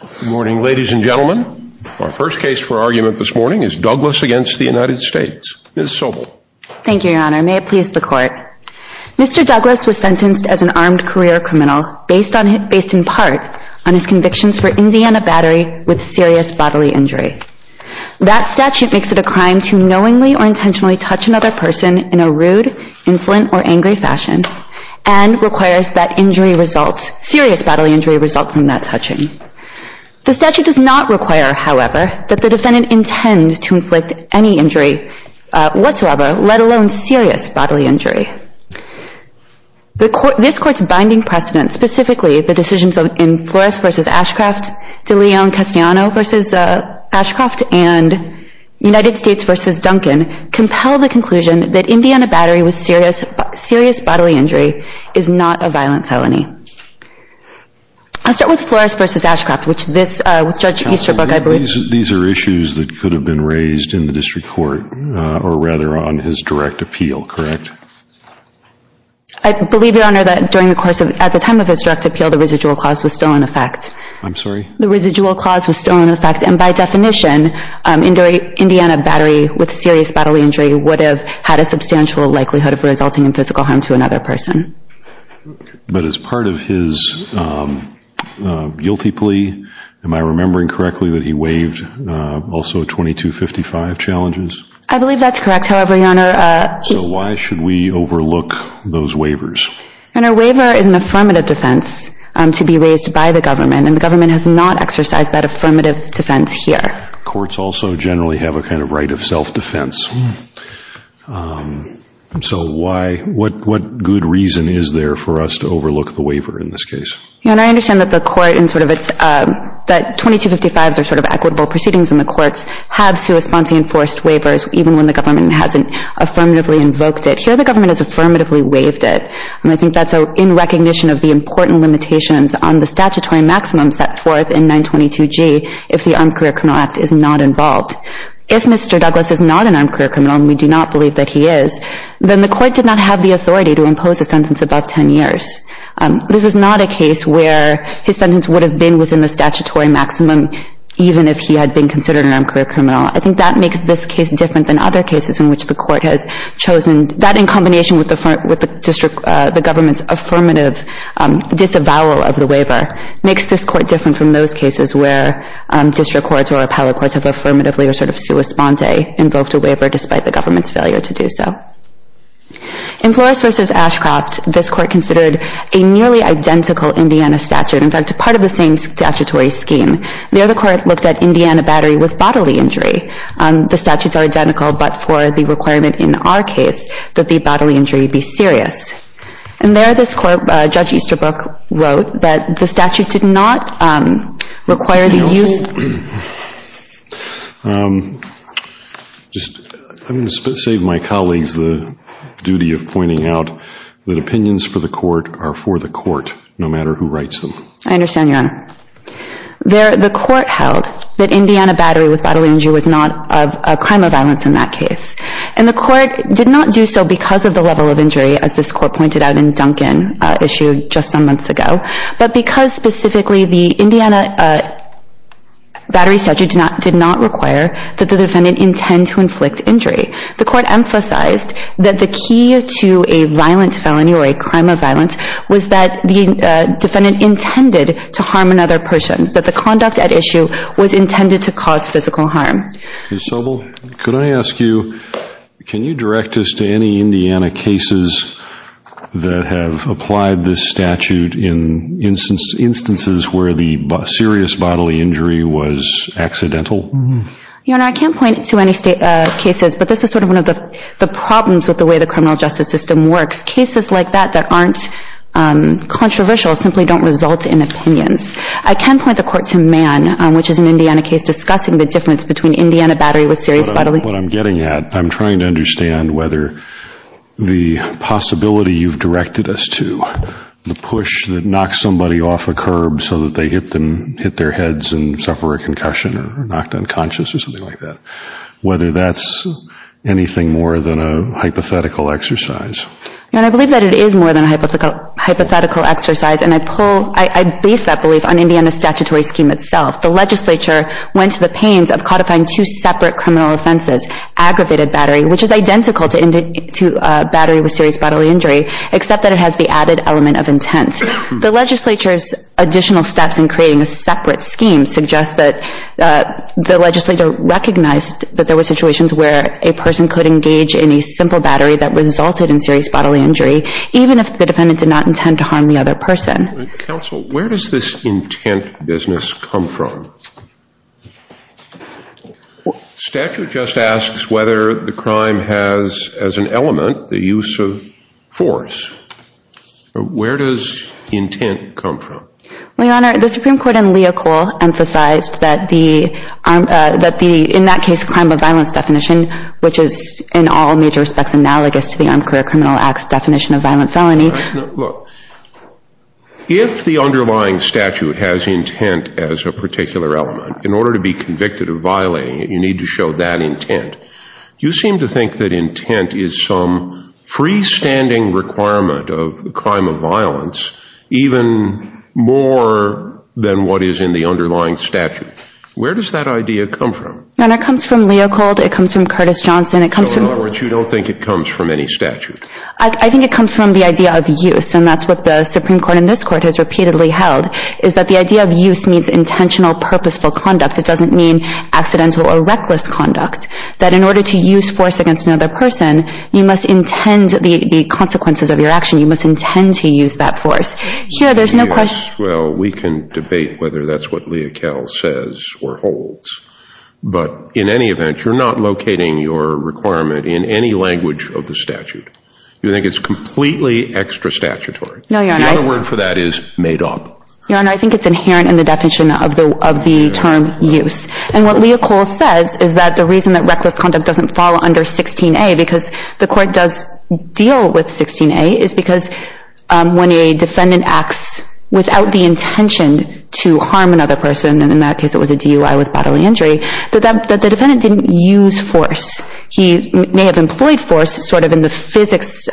Good morning ladies and gentlemen. Our first case for argument this morning is Douglas v. United States. Ms. Sobel. Thank you, Your Honor. May it please the Court. Mr. Douglas was sentenced as an armed career criminal based in part on his convictions for Indiana Battery with serious bodily injury. That statute makes it a crime to knowingly or intentionally touch another person in a rude, insolent, or angry fashion and requires that serious bodily injury result from that touching. The statute does not require, however, that the defendant intend to inflict any injury whatsoever, let alone serious bodily injury. This Court's binding precedents, specifically the decisions in Flores v. Ashcroft, De Leon-Castellano v. Ashcroft, and United States v. Duncan, compel the conclusion that Indiana Battery with serious bodily injury is not a violent felony. I'll start with Flores v. Ashcroft, which this, with Judge Easterbrook I believe These are issues that could have been raised in the District Court or rather on his direct appeal, correct? I believe, Your Honor, that during the course of, at the time of his direct appeal, the residual clause was still in effect. I'm sorry? The residual clause was still in effect, and by definition, Indiana Battery with serious bodily injury would have had a substantial likelihood of resulting in physical harm to another person. But as part of his guilty plea, am I remembering correctly that he waived also 2255 challenges? I believe that's correct, however, Your Honor. So why should we overlook those waivers? Your Honor, a waiver is an affirmative defense to be raised by the government, and the government has not exercised that affirmative defense here. Courts also generally have a kind of right of self-defense. So what good reason is there for us to overlook the waiver in this case? Your Honor, I understand that the court in sort of its, that 2255s are sort of equitable proceedings, and the courts have sui sponte enforced waivers, even when the government hasn't affirmatively invoked it. Here the government has affirmatively waived it, and I think that's in recognition of the important limitations on the statutory maximum set forth in 922G if the Armed Career Criminal Act is not involved. If Mr. Douglas is not an armed career criminal, and we do not believe that he is, then the court did not have the authority to impose a sentence above 10 years. This is not a case where his sentence would have been within the statutory maximum, even if he had been considered an armed career criminal. I think that makes this case different than other cases in which the court has chosen, and that in combination with the government's affirmative disavowal of the waiver makes this court different from those cases where district courts or appellate courts have affirmatively or sort of sui sponte invoked a waiver despite the government's failure to do so. In Flores v. Ashcroft, this court considered a nearly identical Indiana statute, in fact part of the same statutory scheme. The other court looked at Indiana battery with bodily injury. The statutes are identical, but for the requirement in our case that the bodily injury be serious. And there this court, Judge Easterbrook, wrote that the statute did not require the use of I'm going to save my colleagues the duty of pointing out that opinions for the court are for the court, no matter who writes them. I understand, Your Honor. The court held that Indiana battery with bodily injury was not a crime of violence in that case. And the court did not do so because of the level of injury, as this court pointed out in Duncan issued just some months ago, but because specifically the Indiana battery statute did not require that the defendant intend to inflict injury. The court emphasized that the key to a violent felony or a crime of violence was that the defendant intended to harm another person, that the conduct at issue was intended to cause physical harm. Ms. Sobel, can I ask you, can you direct us to any Indiana cases that have applied this statute in instances where the serious bodily injury was accidental? Your Honor, I can't point to any cases, but this is sort of one of the problems with the way the criminal justice system works. Cases like that that aren't controversial simply don't result in opinions. I can point the court to Mann, which is an Indiana case, discussing the difference between Indiana battery with serious bodily injury. What I'm getting at, I'm trying to understand whether the possibility you've directed us to, the push that knocks somebody off a curb so that they hit their heads and suffer a concussion or are knocked unconscious or something like that, whether that's anything more than a hypothetical exercise. I believe that it is more than a hypothetical exercise, and I base that belief on Indiana's statutory scheme itself. The legislature went to the pains of codifying two separate criminal offenses, aggravated battery, which is identical to battery with serious bodily injury, except that it has the added element of intent. The legislature's additional steps in creating a separate scheme suggest that the legislature recognized that there were situations where a person could engage in a simple battery that resulted in serious bodily injury, even if the defendant did not intend to harm the other person. Counsel, where does this intent business come from? Statute just asks whether the crime has as an element the use of force. Where does intent come from? Your Honor, the Supreme Court in Leocol emphasized that the, in that case, crime of violence definition, which is in all major respects analogous to the Armed Career Criminal Act's definition of violent felony. Look, if the underlying statute has intent as a particular element, in order to be convicted of violating it, you need to show that intent. You seem to think that intent is some freestanding requirement of a crime of violence even more than what is in the underlying statute. Where does that idea come from? Your Honor, it comes from Leocold. It comes from Curtis Johnson. So in other words, you don't think it comes from any statute? I think it comes from the idea of use, and that's what the Supreme Court in this Court has repeatedly held, is that the idea of use means intentional, purposeful conduct. It doesn't mean accidental or reckless conduct, that in order to use force against another person, you must intend the consequences of your action. You must intend to use that force. Well, we can debate whether that's what Leocold says or holds, but in any event, you're not locating your requirement in any language of the statute. You think it's completely extra statutory. The other word for that is made up. Your Honor, I think it's inherent in the definition of the term use, and what Leocold says is that the reason that reckless conduct doesn't fall under 16A, because the Court does deal with 16A, is because when a defendant acts without the intention to harm another person, and in that case it was a DUI with bodily injury, that the defendant didn't use force. He may have employed force sort of in the physics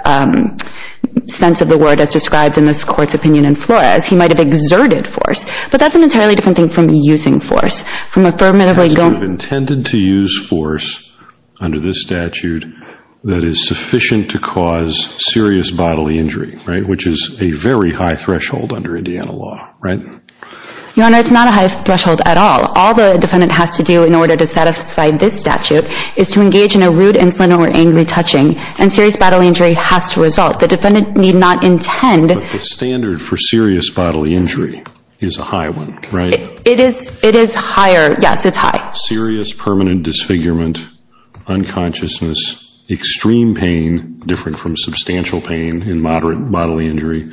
sense of the word as described in this Court's opinion in Flores. He might have exerted force, but that's an entirely different thing from using force. You have intended to use force under this statute that is sufficient to cause serious bodily injury, right, which is a very high threshold under Indiana law, right? Your Honor, it's not a high threshold at all. All the defendant has to do in order to satisfy this statute is to engage in a rude, insolent, or angry touching, and serious bodily injury has to result. The defendant need not intend. But the standard for serious bodily injury is a high one, right? It is higher. Yes, it's high. Serious permanent disfigurement, unconsciousness, extreme pain, different from substantial pain in moderate bodily injury,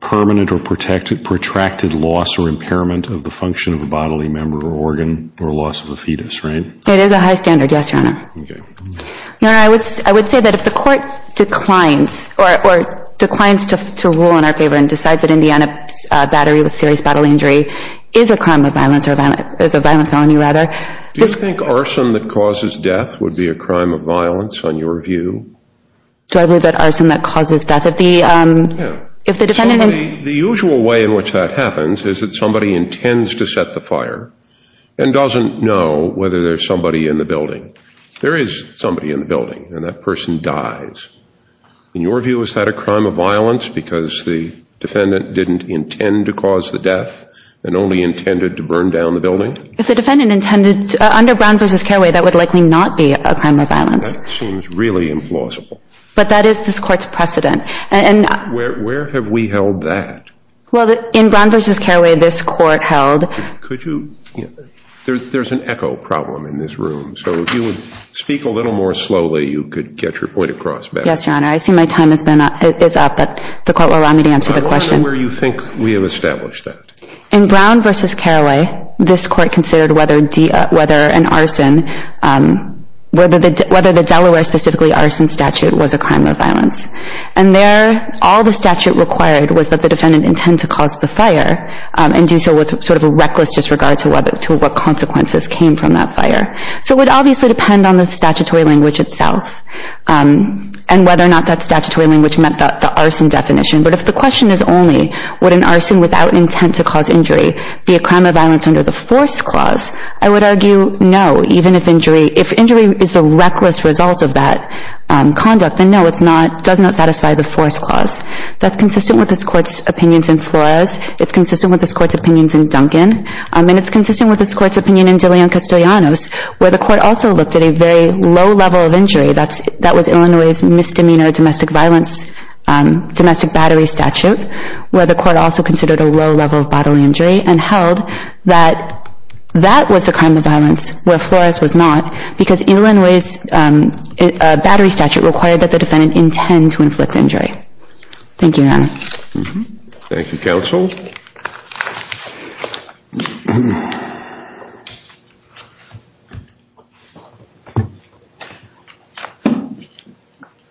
permanent or protracted loss or impairment of the function of a bodily member or organ, or loss of a fetus, right? It is a high standard, yes, Your Honor. Okay. Your Honor, I would say that if the Court declines or declines to rule in our favor and decides that Indiana battery with serious bodily injury is a crime of violence or is a violent felony, rather. Do you think arson that causes death would be a crime of violence on your view? Do I believe that arson that causes death? Yeah. So the usual way in which that happens is that somebody intends to set the fire and doesn't know whether there's somebody in the building. There is somebody in the building, and that person dies. In your view, is that a crime of violence because the defendant didn't intend to cause the death and only intended to burn down the building? If the defendant intended, under Brown v. Carraway, that would likely not be a crime of violence. That seems really implausible. But that is this Court's precedent. Where have we held that? Well, in Brown v. Carraway, this Court held. Could you, there's an echo problem in this room, so if you would speak a little more slowly, you could get your point across better. Yes, Your Honor. I see my time is up, but the Court will allow me to answer the question. I wonder where you think we have established that. In Brown v. Carraway, this Court considered whether an arson, whether the Delaware specifically arson statute was a crime of violence. And there, all the statute required was that the defendant intend to cause the fire and do so with sort of a reckless disregard to what consequences came from that fire. So it would obviously depend on the statutory language itself and whether or not that statutory language meant the arson definition. But if the question is only would an arson without intent to cause injury be a crime of violence under the force clause, I would argue no, even if injury, if injury is the reckless result of that conduct, then no, it does not satisfy the force clause. That's consistent with this Court's opinions in Flores. It's consistent with this Court's opinions in Duncan. And it's consistent with this Court's opinion in De Leon Castellanos, where the Court also looked at a very low level of injury. That was Illinois' misdemeanor domestic violence, domestic battery statute, where the Court also considered a low level of bodily injury and held that that was a crime of violence where Flores was not because Illinois' battery statute required that the defendant intend to inflict injury. Thank you, Your Honor. Thank you, Counsel.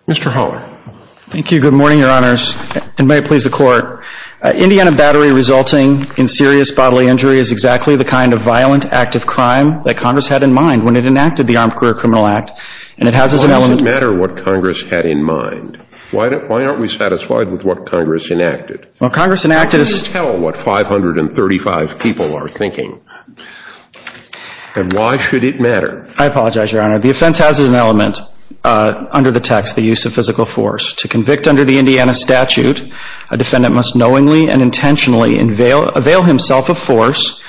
Mr. Holler. Thank you. Good morning, Your Honors, and may it please the Court. Indiana battery resulting in serious bodily injury is exactly the kind of violent act of crime that Congress had in mind when it enacted the Armed Career Criminal Act, and it has as an element Why does it matter what Congress had in mind? Why aren't we satisfied with what Congress enacted? Tell what 535 people are thinking, and why should it matter? I apologize, Your Honor. The offense has as an element under the text the use of physical force. To convict under the Indiana statute, a defendant must knowingly and intentionally avail himself of force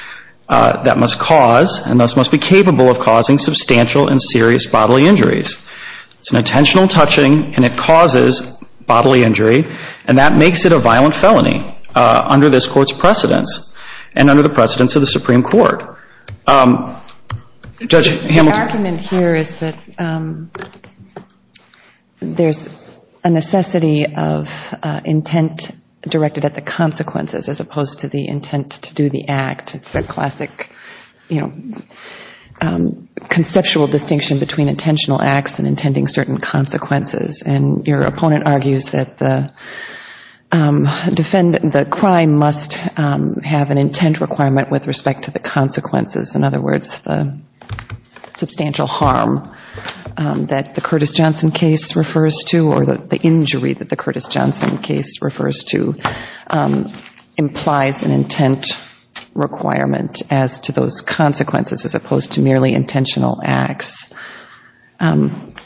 that must cause and thus must be capable of causing substantial and serious bodily injuries. It's an intentional touching, and it causes bodily injury, and that makes it a violent felony under this Court's precedence and under the precedence of the Supreme Court. Judge Hamilton. The argument here is that there's a necessity of intent directed at the consequences as opposed to the intent to do the act. It's the classic conceptual distinction between intentional acts and intending certain consequences, and your opponent argues that the crime must have an intent requirement with respect to the consequences. In other words, the substantial harm that the Curtis Johnson case refers to or the injury that the Curtis Johnson case refers to implies an intent requirement as to those consequences as opposed to merely intentional acts.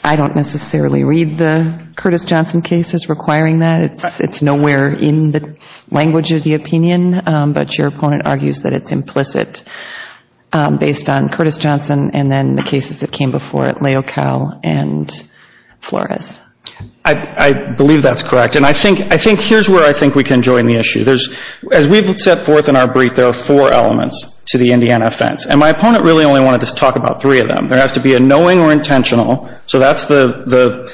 I don't necessarily read the Curtis Johnson case as requiring that. It's nowhere in the language of the opinion, but your opponent argues that it's implicit based on Curtis Johnson and then the cases that came before it, Leocal and Flores. I believe that's correct, and I think here's where I think we can join the issue. As we've set forth in our brief, there are four elements to the Indiana offense, and my opponent really only wanted to talk about three of them. There has to be a knowing or intentional, so that's the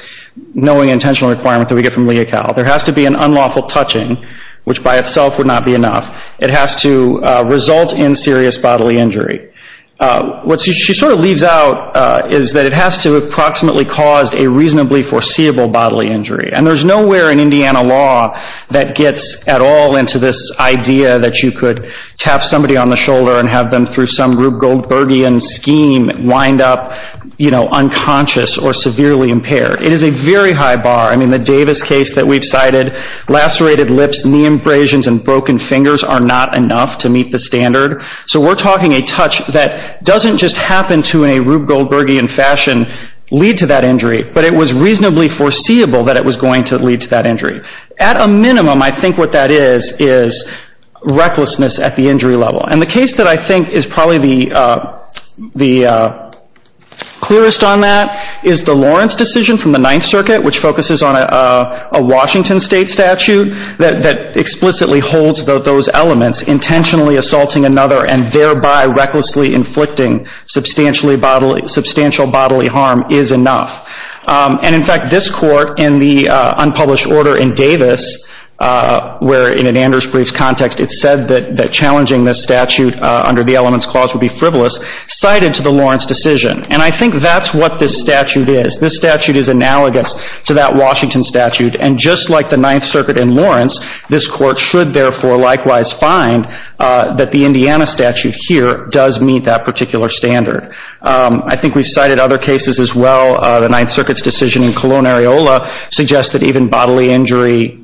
knowing intentional requirement that we get from Leocal. There has to be an unlawful touching, which by itself would not be enough. It has to result in serious bodily injury. What she sort of leaves out is that it has to have approximately caused a reasonably foreseeable bodily injury, and there's nowhere in Indiana law that gets at all into this idea that you could tap somebody on the shoulder and have them through some Rube Goldbergian scheme wind up unconscious or severely impaired. It is a very high bar. I mean, the Davis case that we've cited, lacerated lips, knee abrasions, and broken fingers are not enough to meet the standard, so we're talking a touch that doesn't just happen to in a Rube Goldbergian fashion lead to that injury, but it was reasonably foreseeable that it was going to lead to that injury. At a minimum, I think what that is is recklessness at the injury level, and the case that I think is probably the clearest on that is the Lawrence decision from the Ninth Circuit, which focuses on a Washington State statute that explicitly holds those elements, intentionally assaulting another and thereby recklessly inflicting substantial bodily harm is enough. And, in fact, this court in the unpublished order in Davis, where in an Anders brief context it said that challenging this statute under the elements clause would be frivolous, cited to the Lawrence decision. And I think that's what this statute is. This statute is analogous to that Washington statute, and just like the Ninth Circuit in Lawrence, this court should, therefore, likewise find that the Indiana statute here does meet that particular standard. I think we've cited other cases as well. The Ninth Circuit's decision in Colon-Areola suggests that even bodily injury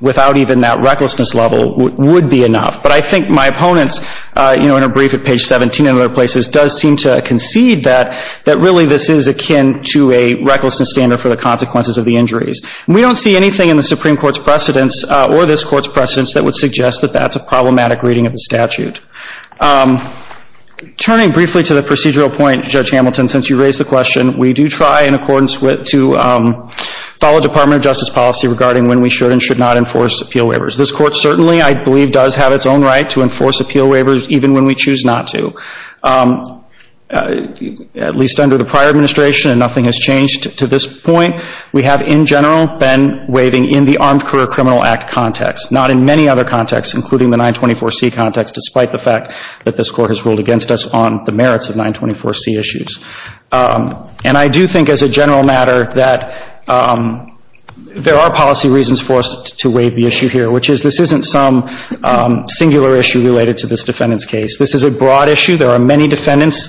without even that recklessness level would be enough. But I think my opponents, you know, in a brief at page 17 and other places, does seem to concede that really this is akin to a recklessness standard for the consequences of the injuries. And we don't see anything in the Supreme Court's precedents or this court's precedents that would suggest that that's a problematic reading of the statute. Turning briefly to the procedural point, Judge Hamilton, since you raised the question, we do try in accordance to follow Department of Justice policy regarding when we should and should not enforce appeal waivers. This court certainly, I believe, does have its own right to enforce appeal waivers even when we choose not to, at least under the prior administration, and nothing has changed to this point. We have, in general, been waiving in the Armed Career Criminal Act context, not in many other contexts, including the 924C context, despite the fact that this court has ruled against us on the merits of 924C issues. And I do think as a general matter that there are policy reasons for us to waive the issue here, which is this isn't some singular issue related to this defendant's case. This is a broad issue. There are many defendants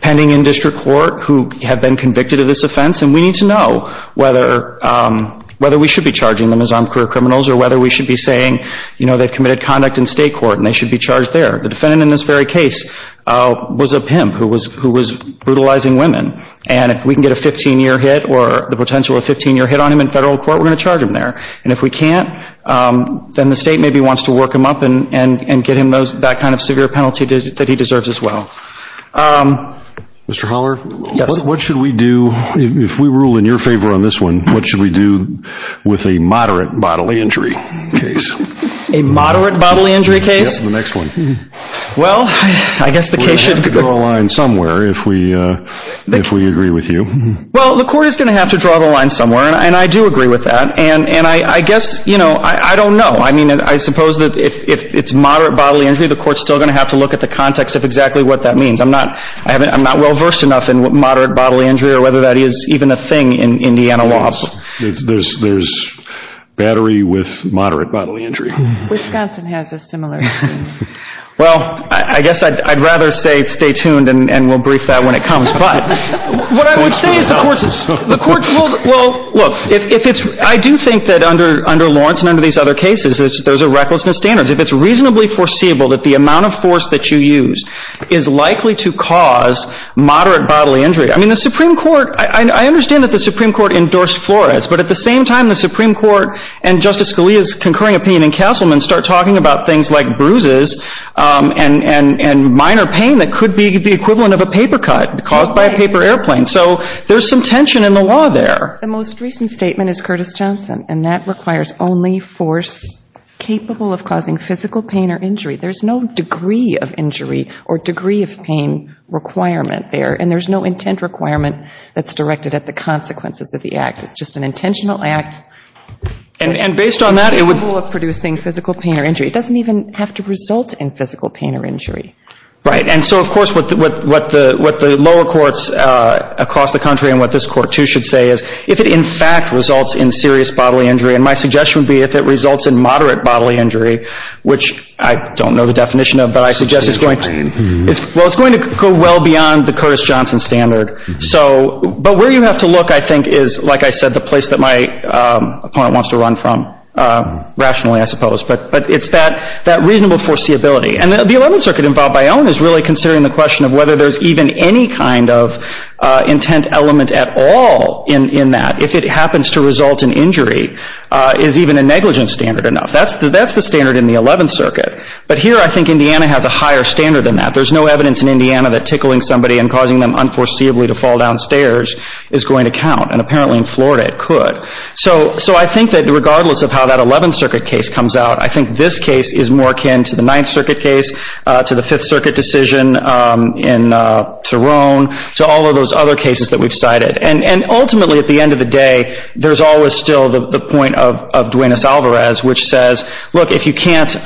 pending in district court who have been convicted of this offense, and we need to know whether we should be charging them as armed career criminals or whether we should be saying, you know, they've committed conduct in state court and they should be charged there. The defendant in this very case was a pimp who was brutalizing women, and if we can get a 15-year hit or the potential of a 15-year hit on him in federal court, we're going to charge him there. And if we can't, then the state maybe wants to work him up and get him that kind of severe penalty that he deserves as well. Mr. Holler? Yes. What should we do, if we rule in your favor on this one, what should we do with a moderate bodily injury case? A moderate bodily injury case? Yes, the next one. Well, I guess the case should... We'll have to draw a line somewhere if we agree with you. Well, the court is going to have to draw the line somewhere, and I do agree with that. And I guess, you know, I don't know. I mean, I suppose that if it's moderate bodily injury, the court's still going to have to look at the context of exactly what that means. I'm not well-versed enough in moderate bodily injury or whether that is even a thing in Indiana law. There's battery with moderate bodily injury. Wisconsin has a similar thing. Well, I guess I'd rather say stay tuned and we'll brief that when it comes. But what I would say is the court's... Well, look, if it's... I do think that under Lawrence and under these other cases, there's a recklessness standard. If it's reasonably foreseeable that the amount of force that you use is likely to cause moderate bodily injury, I mean, the Supreme Court... I understand that the Supreme Court endorsed Flores, but at the same time the Supreme Court and Justice Scalia's concurring opinion in Castleman start talking about things like bruises and minor pain that could be the equivalent of a paper cut caused by a paper airplane. So there's some tension in the law there. The most recent statement is Curtis Johnson, and that requires only force capable of causing physical pain or injury. There's no degree of injury or degree of pain requirement there, and there's no intent requirement that's directed at the consequences of the act. It's just an intentional act... And based on that, it would... ...capable of producing physical pain or injury. It doesn't even have to result in physical pain or injury. Right, and so, of course, what the lower courts across the country and what this court too should say is, if it in fact results in serious bodily injury, and my suggestion would be if it results in moderate bodily injury, which I don't know the definition of, but I suggest it's going to... Well, it's going to go well beyond the Curtis Johnson standard. But where you have to look, I think, is, like I said, the place that my opponent wants to run from, rationally, I suppose. But it's that reasonable foreseeability. And the Eleventh Circuit involved by own is really considering the question of whether there's even any kind of intent element at all in that. If it happens to result in injury, is even a negligence standard enough? That's the standard in the Eleventh Circuit. But here I think Indiana has a higher standard than that. There's no evidence in Indiana that tickling somebody and causing them unforeseeably to fall downstairs is going to count, and apparently in Florida it could. So I think that regardless of how that Eleventh Circuit case comes out, I think this case is more akin to the Ninth Circuit case, to the Fifth Circuit decision in Turon, to all of those other cases that we've cited. And ultimately, at the end of the day, there's always still the point of Duenas-Alvarez, which says, look, if you can't...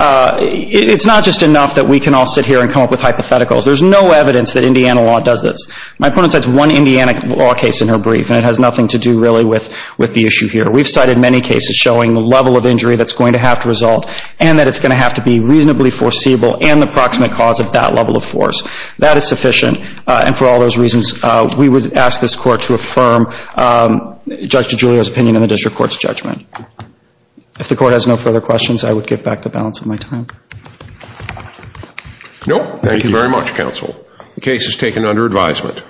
It's not just enough that we can all sit here and come up with hypotheticals. There's no evidence that Indiana law does this. My opponent cites one Indiana law case in her brief, and it has nothing to do, really, with the issue here. We've cited many cases showing the level of injury that's going to have to result and that it's going to have to be reasonably foreseeable and the proximate cause of that level of force. That is sufficient, and for all those reasons, we would ask this Court to affirm Judge DiGiulio's opinion in the District Court's judgment. If the Court has no further questions, I would give back the balance of my time. Nope. Thank you very much, Counsel. The case is taken under advisement.